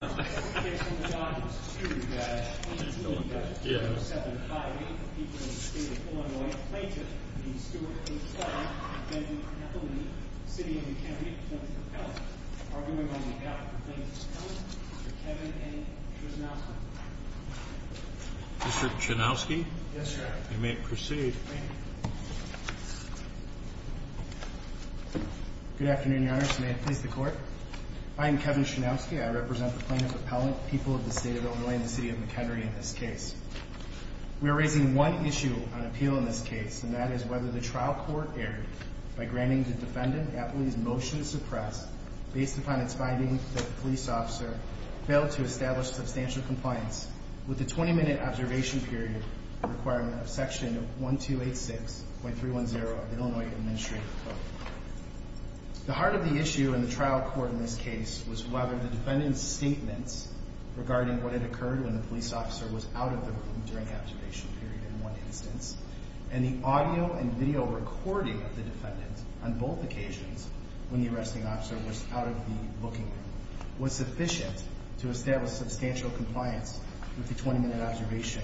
Mr. Chenowski, you may proceed. Good afternoon, your honor. May it please the court. I am Kevin Chenowski. I represent the plaintiff's appellant, people of the state of Illinois and the city of McHenry in this case. We are raising one issue on appeal in this case, and that is whether the trial court erred by granting the defendant's motion to suppress based upon its findings that the police officer failed to establish substantial compliance with the 20-minute observation period requirement of section 1286.310 of the Illinois Administrative Code. The heart of the issue in the trial court in this case was whether the defendant's statement regarding what had occurred when the police officer was out of the room during the observation period in one instance, and the audio and video recording of the defendant on both occasions when the arresting officer was out of the booking room, was sufficient to establish substantial compliance with the 20-minute observation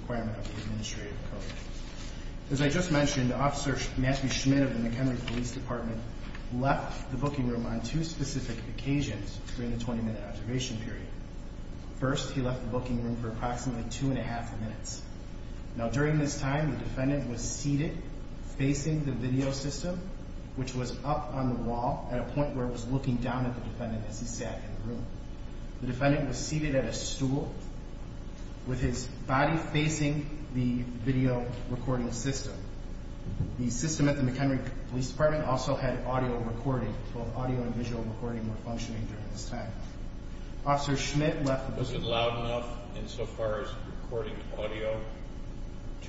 requirement of the Administrative Code. As I just mentioned, Officer Matthew Schmidt of the McHenry Police Department left the booking room on two specific occasions during the 20-minute observation period. First, he left the booking room for approximately two and a half minutes. Now, during this time, the defendant was seated facing the video system, which was up on the wall at a point where it was looking down at the defendant as he sat in the room. The defendant was seated at a stool with his body facing the video recording system. The system at the McHenry Police Department also had audio recording. Both audio and visual recording were functioning during this time. Officer Schmidt left the booking room. Was it loud enough insofar as recording audio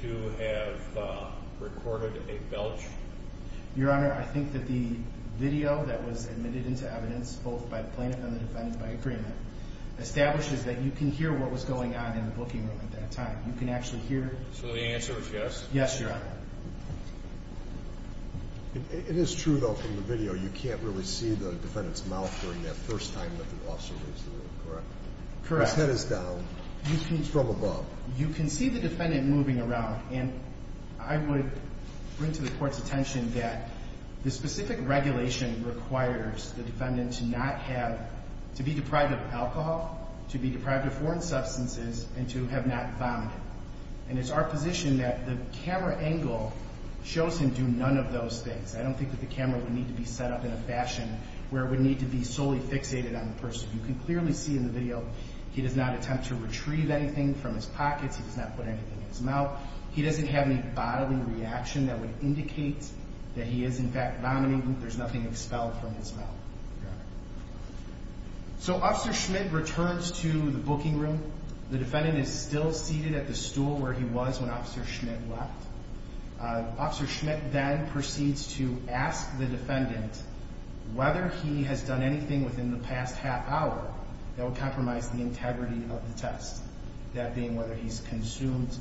to have recorded a belch? Your Honor, I think that the video that was admitted into evidence, both by the plaintiff and the defendant by agreement, establishes that you can hear what was going on in the booking room at that time. You can actually hear... So the answer is yes? Yes, Your Honor. It is true, though, from the video, you can't really see the defendant's mouth during that first time that the officer leaves the room, correct? Correct. His head is down. He speaks from above. You can see the defendant moving around, and I would bring to the Court's attention that the specific regulation requires the defendant to be deprived of alcohol, to be deprived of foreign substances, and to have not vomited. And it's our position that the camera angle shows him do none of those things. I don't think that the camera would need to be set up in a fashion where it would need to be solely fixated on the person. As you can clearly see in the video, he does not attempt to retrieve anything from his pockets. He does not put anything in his mouth. He doesn't have any bodily reaction that would indicate that he is, in fact, vomiting. There's nothing expelled from his mouth, Your Honor. So Officer Schmidt returns to the booking room. The defendant is still seated at the stool where he was when Officer Schmidt left. Officer Schmidt then proceeds to ask the defendant whether he has done anything within the past half hour that would compromise the integrity of the test. That being whether he's consumed,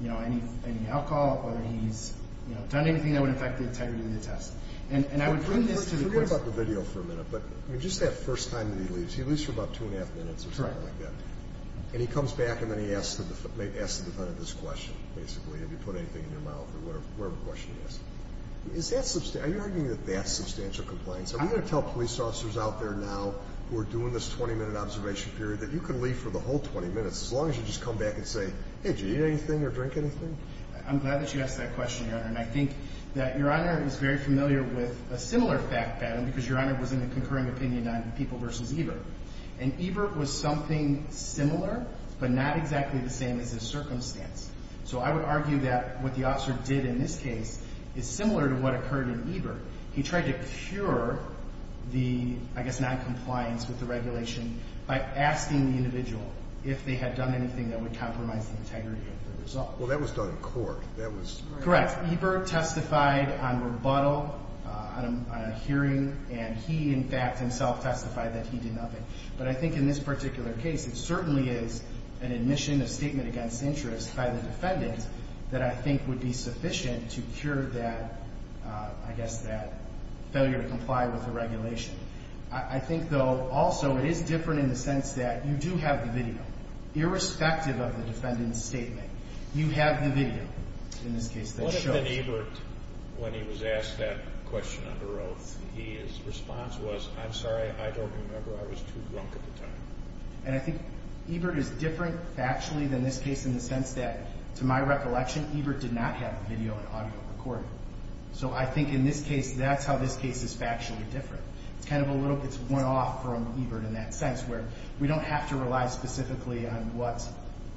you know, any alcohol, whether he's, you know, done anything that would affect the integrity of the test. And I would bring this to the question. Forget about the video for a minute, but just that first time that he leaves, he leaves for about two and a half minutes or something like that. Correct. And he comes back and then he asks the defendant this question, basically, have you put anything in your mouth or whatever question he asks. Are you arguing that that's substantial compliance? I'm going to tell police officers out there now who are doing this 20-minute observation period that you can leave for the whole 20 minutes as long as you just come back and say, hey, did you eat anything or drink anything? I'm glad that you asked that question, Your Honor. And I think that Your Honor is very familiar with a similar fact pattern because Your Honor was in a concurring opinion on People v. Ebert. And Ebert was something similar but not exactly the same as his circumstance. So I would argue that what the officer did in this case is similar to what occurred in Ebert. He tried to cure the, I guess, noncompliance with the regulation by asking the individual if they had done anything that would compromise the integrity of the result. Well, that was done in court. Correct. Ebert testified on rebuttal on a hearing and he, in fact, himself testified that he did nothing. But I think in this particular case it certainly is an admission of statement against interest by the defendant that I think would be sufficient to cure that, I guess, that failure to comply with the regulation. I think, though, also it is different in the sense that you do have the video. Irrespective of the defendant's statement, you have the video in this case that shows. What if then Ebert, when he was asked that question under oath, his response was, I'm sorry, I don't remember. I was too drunk at the time. And I think Ebert is different factually than this case in the sense that, to my recollection, Ebert did not have video and audio recorded. So I think in this case that's how this case is factually different. It's kind of a little bit worn off from Ebert in that sense where we don't have to rely specifically on what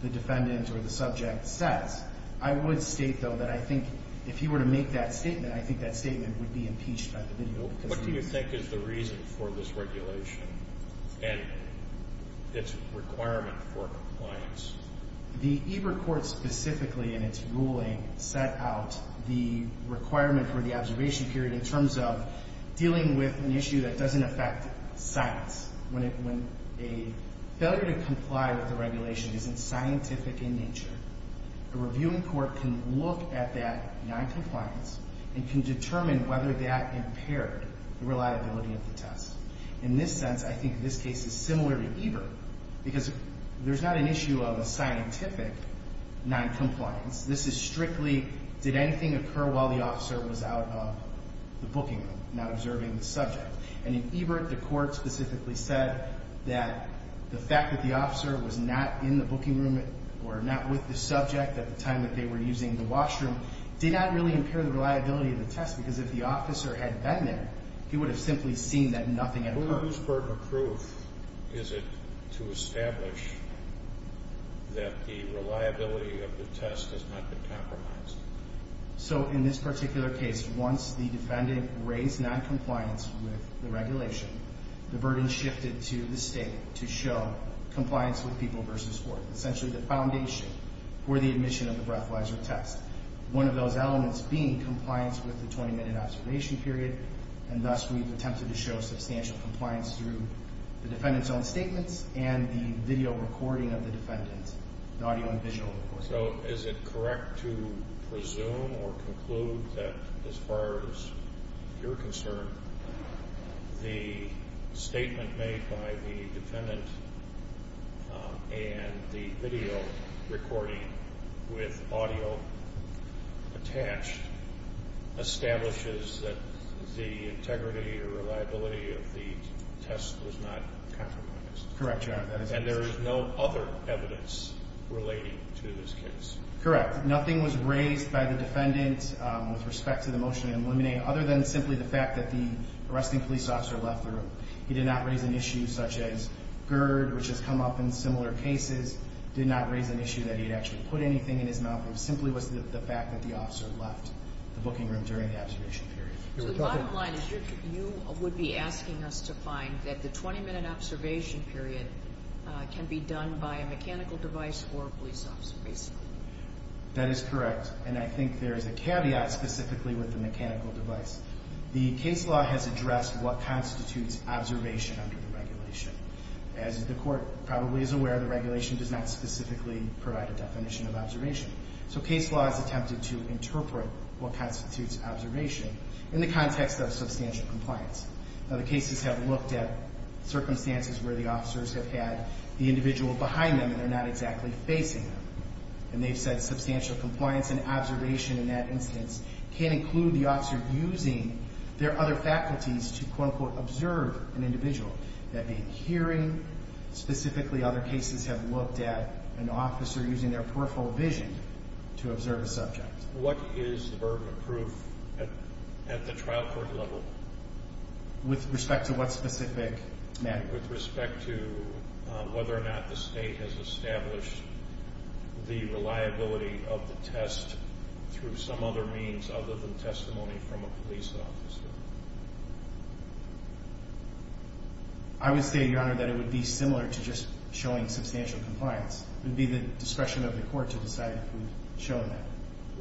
the defendant or the subject says. I would state, though, that I think if he were to make that statement, I think that statement would be impeached by the video. What do you think is the reason for this regulation and its requirement for compliance? The Ebert court specifically in its ruling set out the requirement for the observation period in terms of dealing with an issue that doesn't affect science. When a failure to comply with a regulation isn't scientific in nature, a reviewing court can look at that noncompliance and can determine whether that impaired the reliability of the test. In this sense, I think this case is similar to Ebert because there's not an issue of a scientific noncompliance. This is strictly did anything occur while the officer was out of the booking room, not observing the subject. And in Ebert, the court specifically said that the fact that the officer was not in the booking room or not with the subject at the time that they were using the washroom did not really impair the reliability of the test because if the officer had been there, he would have simply seen that nothing had occurred. Whose burden of proof is it to establish that the reliability of the test has not been compromised? So in this particular case, once the defendant raised noncompliance with the regulation, the burden shifted to the state to show compliance with people versus court. Essentially, the foundation for the admission of the breathalyzer test. One of those elements being compliance with the 20-minute observation period. And thus, we've attempted to show substantial compliance through the defendant's own statements and the video recording of the defendant, the audio and visual recording. So is it correct to presume or conclude that as far as you're concerned, the statement made by the defendant and the video recording with audio attached establishes that the integrity or reliability of the test was not compromised? Correct, Your Honor. And there is no other evidence relating to this case? Correct. Nothing was raised by the defendant with respect to the motion to eliminate other than simply the fact that the arresting police officer left the room. He did not raise an issue such as GERD, which has come up in similar cases, did not raise an issue that he had actually put anything in his mouth. It simply was the fact that the officer left the booking room during the observation period. So the bottom line is you would be asking us to find that the 20-minute observation period can be done by a mechanical device or a police officer, basically. That is correct. And I think there is a caveat specifically with the mechanical device. The case law has addressed what constitutes observation under the regulation. As the Court probably is aware, the regulation does not specifically provide a definition of observation. So case law has attempted to interpret what constitutes observation in the context of substantial compliance. Now, the cases have looked at circumstances where the officers have had the individual behind them and they're not exactly facing them. And they've said substantial compliance and observation in that instance can include the officer using their other faculties to, quote-unquote, observe an individual. That being hearing, specifically other cases have looked at an officer using their peripheral vision to observe a subject. What is the burden of proof at the trial court level? With respect to what specific matter? With respect to whether or not the State has established the reliability of the test through some other means other than testimony from a police officer. I would say, Your Honor, that it would be similar to just showing substantial compliance. It would be the discretion of the Court to decide if we would show that.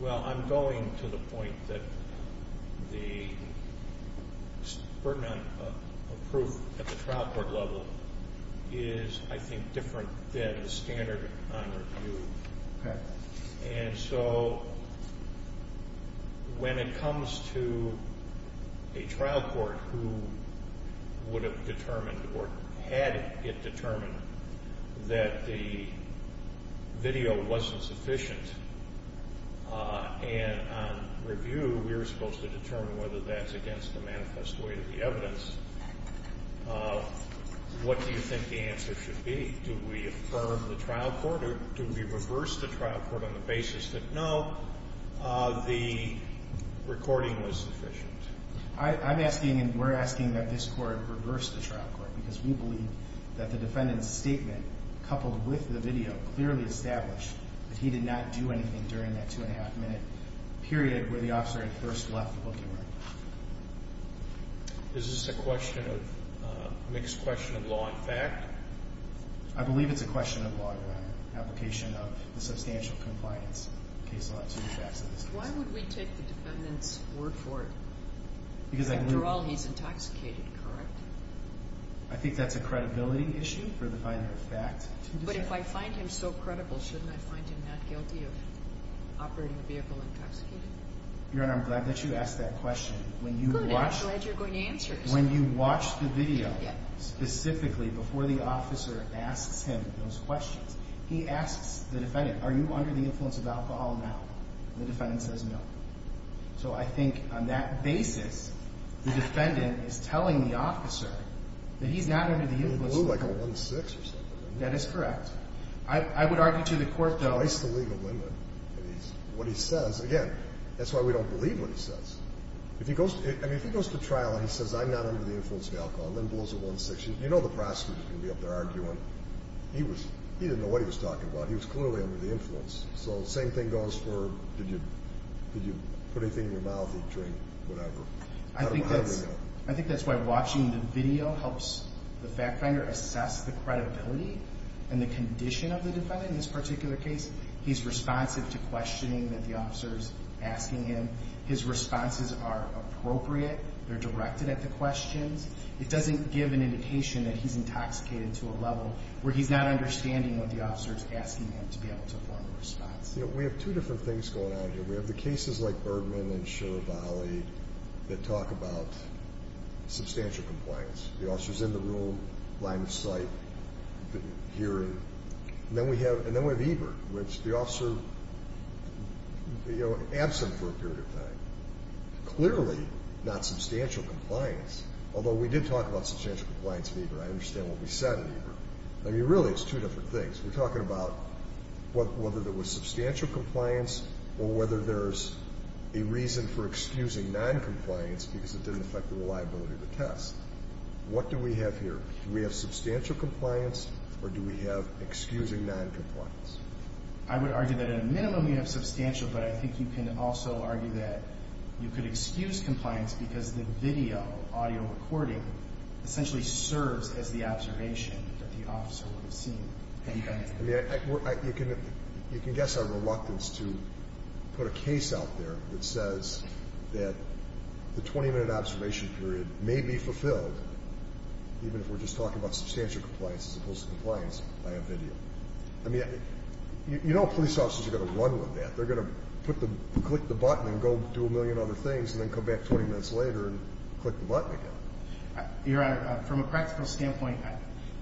Well, I'm going to the point that the burden of proof at the trial court level is, I think, different than the standard on review. Okay. And so when it comes to a trial court who would have determined or had it determined that the video wasn't sufficient, and on review we were supposed to determine whether that's against the manifest way of the evidence, what do you think the answer should be? Do we affirm the trial court or do we reverse the trial court on the basis that, no, the recording was sufficient? I'm asking and we're asking that this Court reverse the trial court because we believe that the defendant's statement, coupled with the video, clearly established that he did not do anything during that two-and-a-half-minute period where the officer had first left the booking room. Is this a question of mixed question of law and fact? I believe it's a question of law and application of the substantial compliance case law to the facts of this case. Why would we take the defendant's word for it? Because I do. After all, he's intoxicated, correct? I think that's a credibility issue for the finding of fact. But if I find him so credible, shouldn't I find him not guilty of operating a vehicle intoxicated? Your Honor, I'm glad that you asked that question. Good, I'm glad you're going to answer it. When you watch the video, specifically before the officer asks him those questions, he asks the defendant, are you under the influence of alcohol now? The defendant says no. So I think on that basis, the defendant is telling the officer that he's not under the influence of alcohol. He blew like a one-six or something. That is correct. I would argue to the Court, though. He's voiced the legal limit. What he says, again, that's why we don't believe what he says. If he goes to trial and he says I'm not under the influence of alcohol and then blows a one-six, you know the prosecutor is going to be up there arguing. He didn't know what he was talking about. He was clearly under the influence. So the same thing goes for did you put anything in your mouth, eat, drink, whatever. I think that's why watching the video helps the fact finder assess the credibility and the condition of the defendant in this particular case. He's responsive to questioning that the officer is asking him. His responses are appropriate. They're directed at the questions. It doesn't give an indication that he's intoxicated to a level where he's not understanding what the officer is asking him to be able to form a response. We have two different things going on here. We have the cases like Bergman and Shirvalli that talk about substantial compliance. The officer's in the room, line of sight, hearing. And then we have Eber, which the officer, you know, absent for a period of time. Clearly not substantial compliance, although we did talk about substantial compliance in Eber. I understand what we said in Eber. I mean, really it's two different things. We're talking about whether there was substantial compliance or whether there's a reason for excusing noncompliance because it didn't affect the reliability of the test. What do we have here? Do we have substantial compliance or do we have excusing noncompliance? I would argue that at a minimum you have substantial, but I think you can also argue that you could excuse compliance because the video, audio recording, essentially serves as the observation that the officer would have seen the defendant. I mean, you can guess our reluctance to put a case out there that says that the 20-minute observation period may be fulfilled, even if we're just talking about substantial compliance as opposed to compliance by a video. I mean, you know police officers are going to run with that. They're going to click the button and go do a million other things and then come back 20 minutes later and click the button again. Your Honor, from a practical standpoint,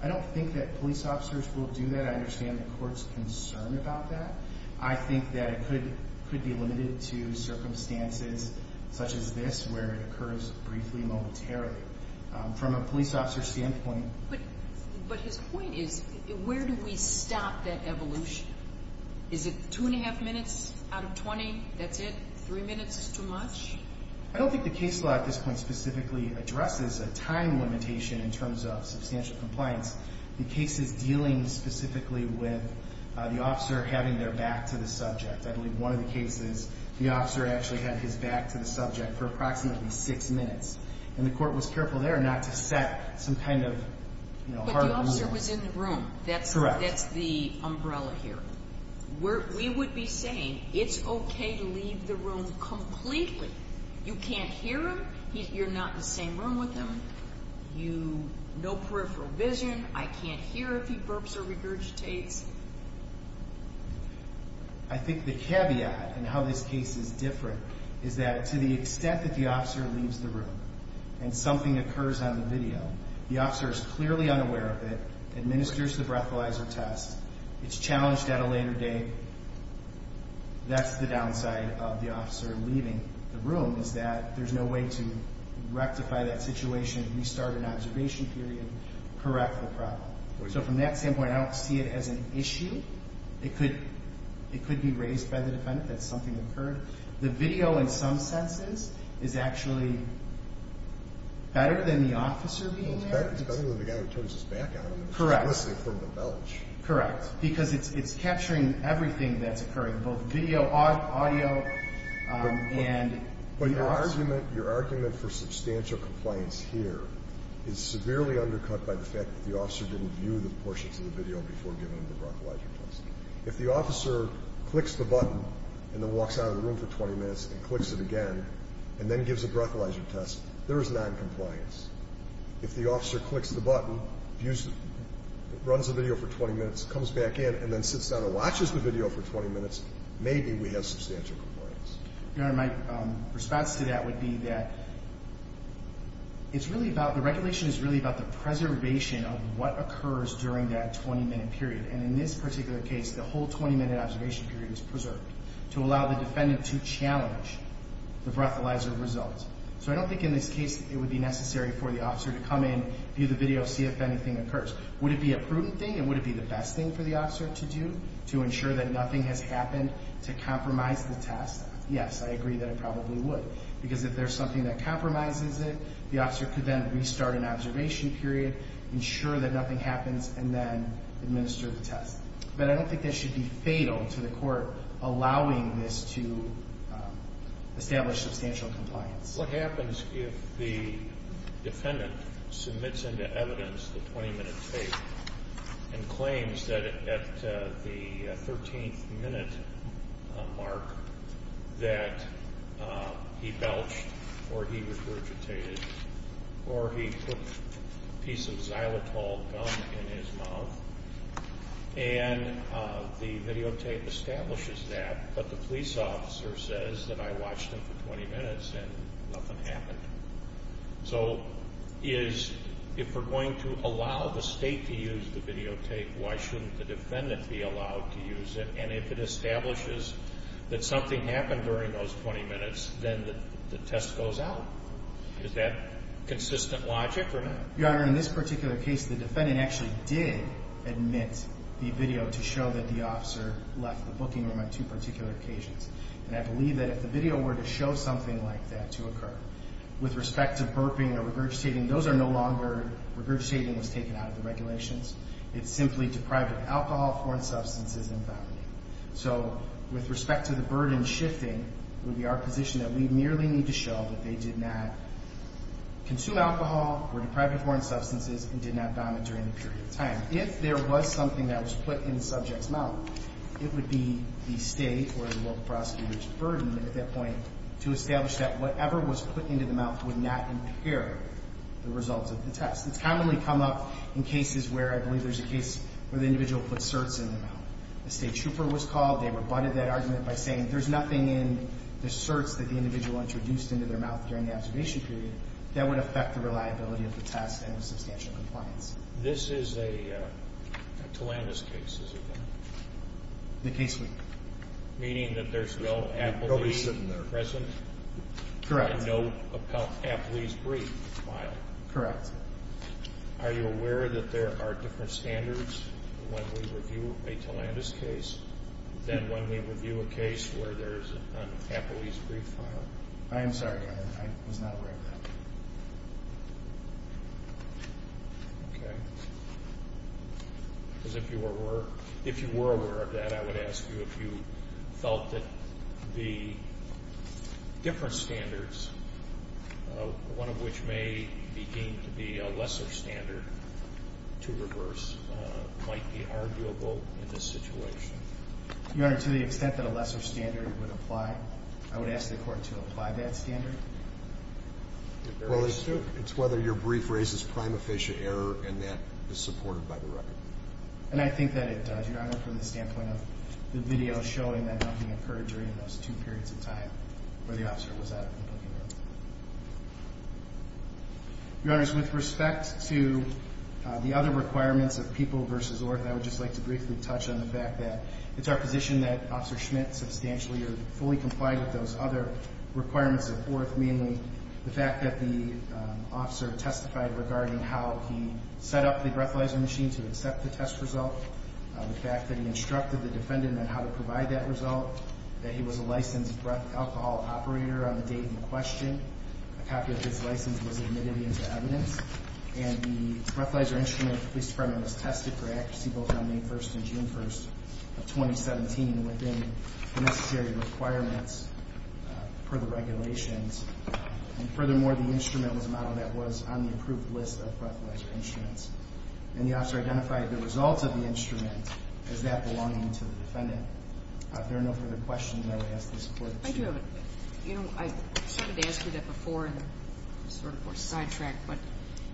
I don't think that police officers will do that. I understand the court's concern about that. I think that it could be limited to circumstances such as this where it occurs briefly, momentarily. From a police officer's standpoint. But his point is where do we stop that evolution? Is it two and a half minutes out of 20, that's it? Three minutes is too much? I don't think the case law at this point specifically addresses a time limitation in terms of substantial compliance. The case is dealing specifically with the officer having their back to the subject. I believe one of the cases, the officer actually had his back to the subject for approximately six minutes. And the court was careful there not to set some kind of harder rule. But the officer was in the room. Correct. That's the umbrella here. We would be saying it's okay to leave the room completely. You can't hear him. You're not in the same room with him. No peripheral vision. I can't hear if he burps or regurgitates. I think the caveat in how this case is different is that to the extent that the officer leaves the room and something occurs on the video, the officer is clearly unaware of it, administers the breathalyzer test. It's challenged at a later date. That's the downside of the officer leaving the room is that there's no way to rectify that situation, restart an observation period, correct the problem. So from that standpoint, I don't see it as an issue. It could be raised by the defendant that something occurred. The video in some senses is actually better than the officer being there. It's better than the guy who turns his back on him. Correct. Especially from the belch. Correct. Because it's capturing everything that's occurring, both video, audio, and... Your argument for substantial compliance here is severely undercut by the fact that the officer didn't view the portions of the video before giving him the breathalyzer test. If the officer clicks the button and then walks out of the room for 20 minutes and clicks it again and then gives a breathalyzer test, there is noncompliance. If the officer clicks the button, runs the video for 20 minutes, comes back in, and then sits down and watches the video for 20 minutes, maybe we have substantial compliance. Your Honor, my response to that would be that the regulation is really about the preservation of what occurs during that 20-minute period. And in this particular case, the whole 20-minute observation period is preserved to allow the defendant to challenge the breathalyzer result. So I don't think in this case it would be necessary for the officer to come in, view the video, see if anything occurs. Would it be a prudent thing and would it be the best thing for the officer to do to ensure that nothing has happened to compromise the test? Yes, I agree that it probably would. Because if there's something that compromises it, the officer could then restart an observation period, ensure that nothing happens, and then administer the test. But I don't think that should be fatal to the court allowing this to establish substantial compliance. What happens if the defendant submits into evidence the 20-minute tape and claims that at the 13th minute mark that he belched or he regurgitated or he put a piece of xylitol gum in his mouth and the videotape establishes that, but the police officer says that I watched him for 20 minutes and nothing happened? So if we're going to allow the state to use the videotape, why shouldn't the defendant be allowed to use it? And if it establishes that something happened during those 20 minutes, then the test goes out. Is that consistent logic or not? Your Honor, in this particular case, the defendant actually did admit the video to show that the officer left the booking room on two particular occasions. And I believe that if the video were to show something like that to occur, with respect to burping or regurgitating, those are no longer regurgitating what's taken out of the regulations. It's simply deprived of alcohol, foreign substances, and vomiting. So with respect to the burden shifting, it would be our position that we merely need to show that they did not consume alcohol, were deprived of foreign substances, and did not vomit during the period of time. If there was something that was put in the subject's mouth, it would be the state or the local prosecutor's burden at that point to establish that whatever was put into the mouth would not impair the results of the test. It's commonly come up in cases where I believe there's a case where the individual puts certs in the mouth. A state trooper was called. They rebutted that argument by saying there's nothing in the certs that the individual introduced into their mouth during the observation period that would affect the reliability of the test and substantial compliance. This is a Tillandus case, is it not? The case we... Meaning that there's no appellee present? Correct. And no appellee's brief file? Correct. Are you aware that there are different standards when we review a Tillandus case than when we review a case where there's an appellee's brief file? I am sorry. I was not aware of that. Okay. Because if you were aware of that, I would ask you if you felt that the different standards, one of which may be deemed to be a lesser standard to reverse, might be arguable in this situation. Your Honor, to the extent that a lesser standard would apply, I would ask the Court to apply that standard. Well, it's whether your brief raises prime official error and that is supported by the record. And I think that it does, Your Honor, from the standpoint of the video showing that nothing occurred during those two periods of time where the officer was out of the booking room. Your Honors, with respect to the other requirements of people versus orth, I would just like to briefly touch on the fact that it's our position that Officer Schmidt substantially or fully complied with those other requirements of orth, mainly the fact that the officer testified regarding how he set up the breathalyzer machine to accept the test result, the fact that he instructed the defendant on how to provide that result, that he was a licensed breath alcohol operator on the date in question, a copy of his license was admitted into evidence, and the breathalyzer instrument for the Police Department was tested for accuracy both on May 1st and June 1st of 2017 within the necessary requirements per the regulations. And furthermore, the instrument was a model that was on the approved list of breathalyzer instruments. And the officer identified the results of the instrument as that belonging to the defendant. If there are no further questions, I would ask for support. I do have a question. You know, I started to ask you that before and sort of sidetracked, but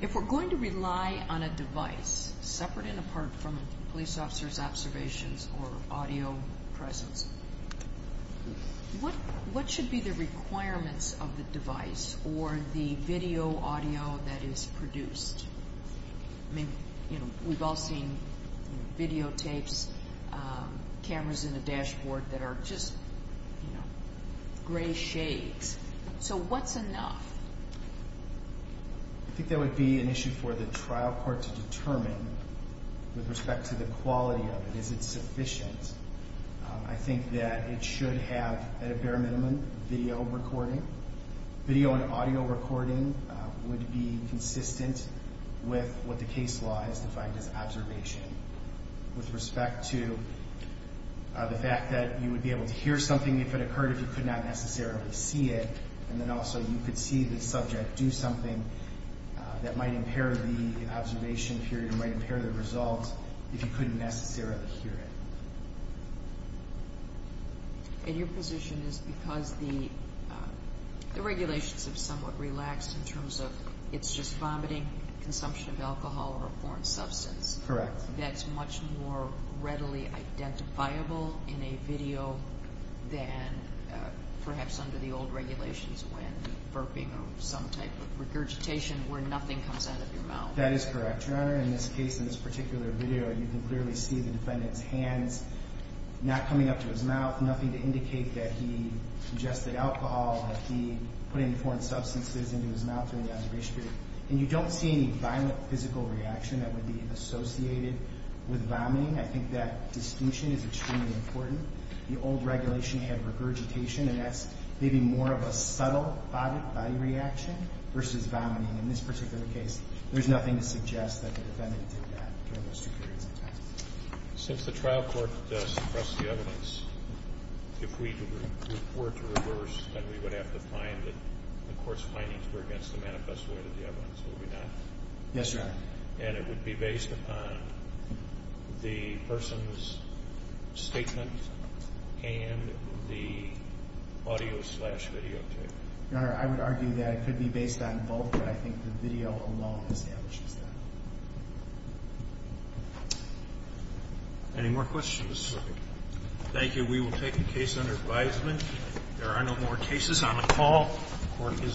if we're going to rely on a device separate and apart from a police officer's observations or audio presence, what should be the requirements of the device or the video audio that is produced? I mean, you know, we've all seen videotapes, cameras in the dashboard that are just, you know, gray shades. So what's enough? I think that would be an issue for the trial court to determine with respect to the quality of it. Is it sufficient? I think that it should have, at a bare minimum, video recording. Video and audio recording would be consistent with what the case law has defined as observation. With respect to the fact that you would be able to hear something if it occurred if you could not necessarily see it, and then also you could see the subject do something that might impair the observation period or might impair the result if you couldn't necessarily hear it. And your position is because the regulations have somewhat relaxed in terms of it's just vomiting, consumption of alcohol, or a foreign substance. Correct. That's much more readily identifiable in a video than perhaps under the old regulations when burping or some type of regurgitation where nothing comes out of your mouth. That is correct, Your Honor. In this case, in this particular video, you can clearly see the defendant's hands not coming up to his mouth, nothing to indicate that he ingested alcohol or he put any foreign substances into his mouth during the observation period. And you don't see any violent physical reaction that would be associated with vomiting. I think that distinction is extremely important. The old regulation had regurgitation, and that's maybe more of a subtle body reaction versus vomiting. In this particular case, there's nothing to suggest that the defendant did that during those two periods of time. Since the trial court suppressed the evidence, if we were to reverse, then we would have to find that the court's findings were against the manifest way of the evidence, would we not? Yes, Your Honor. And it would be based upon the person's statement and the audio-slash-video tape. Your Honor, I would argue that it could be based on both, but I think the video alone establishes that. Any more questions? Thank you. We will take the case under advisement. There are no more cases on the call.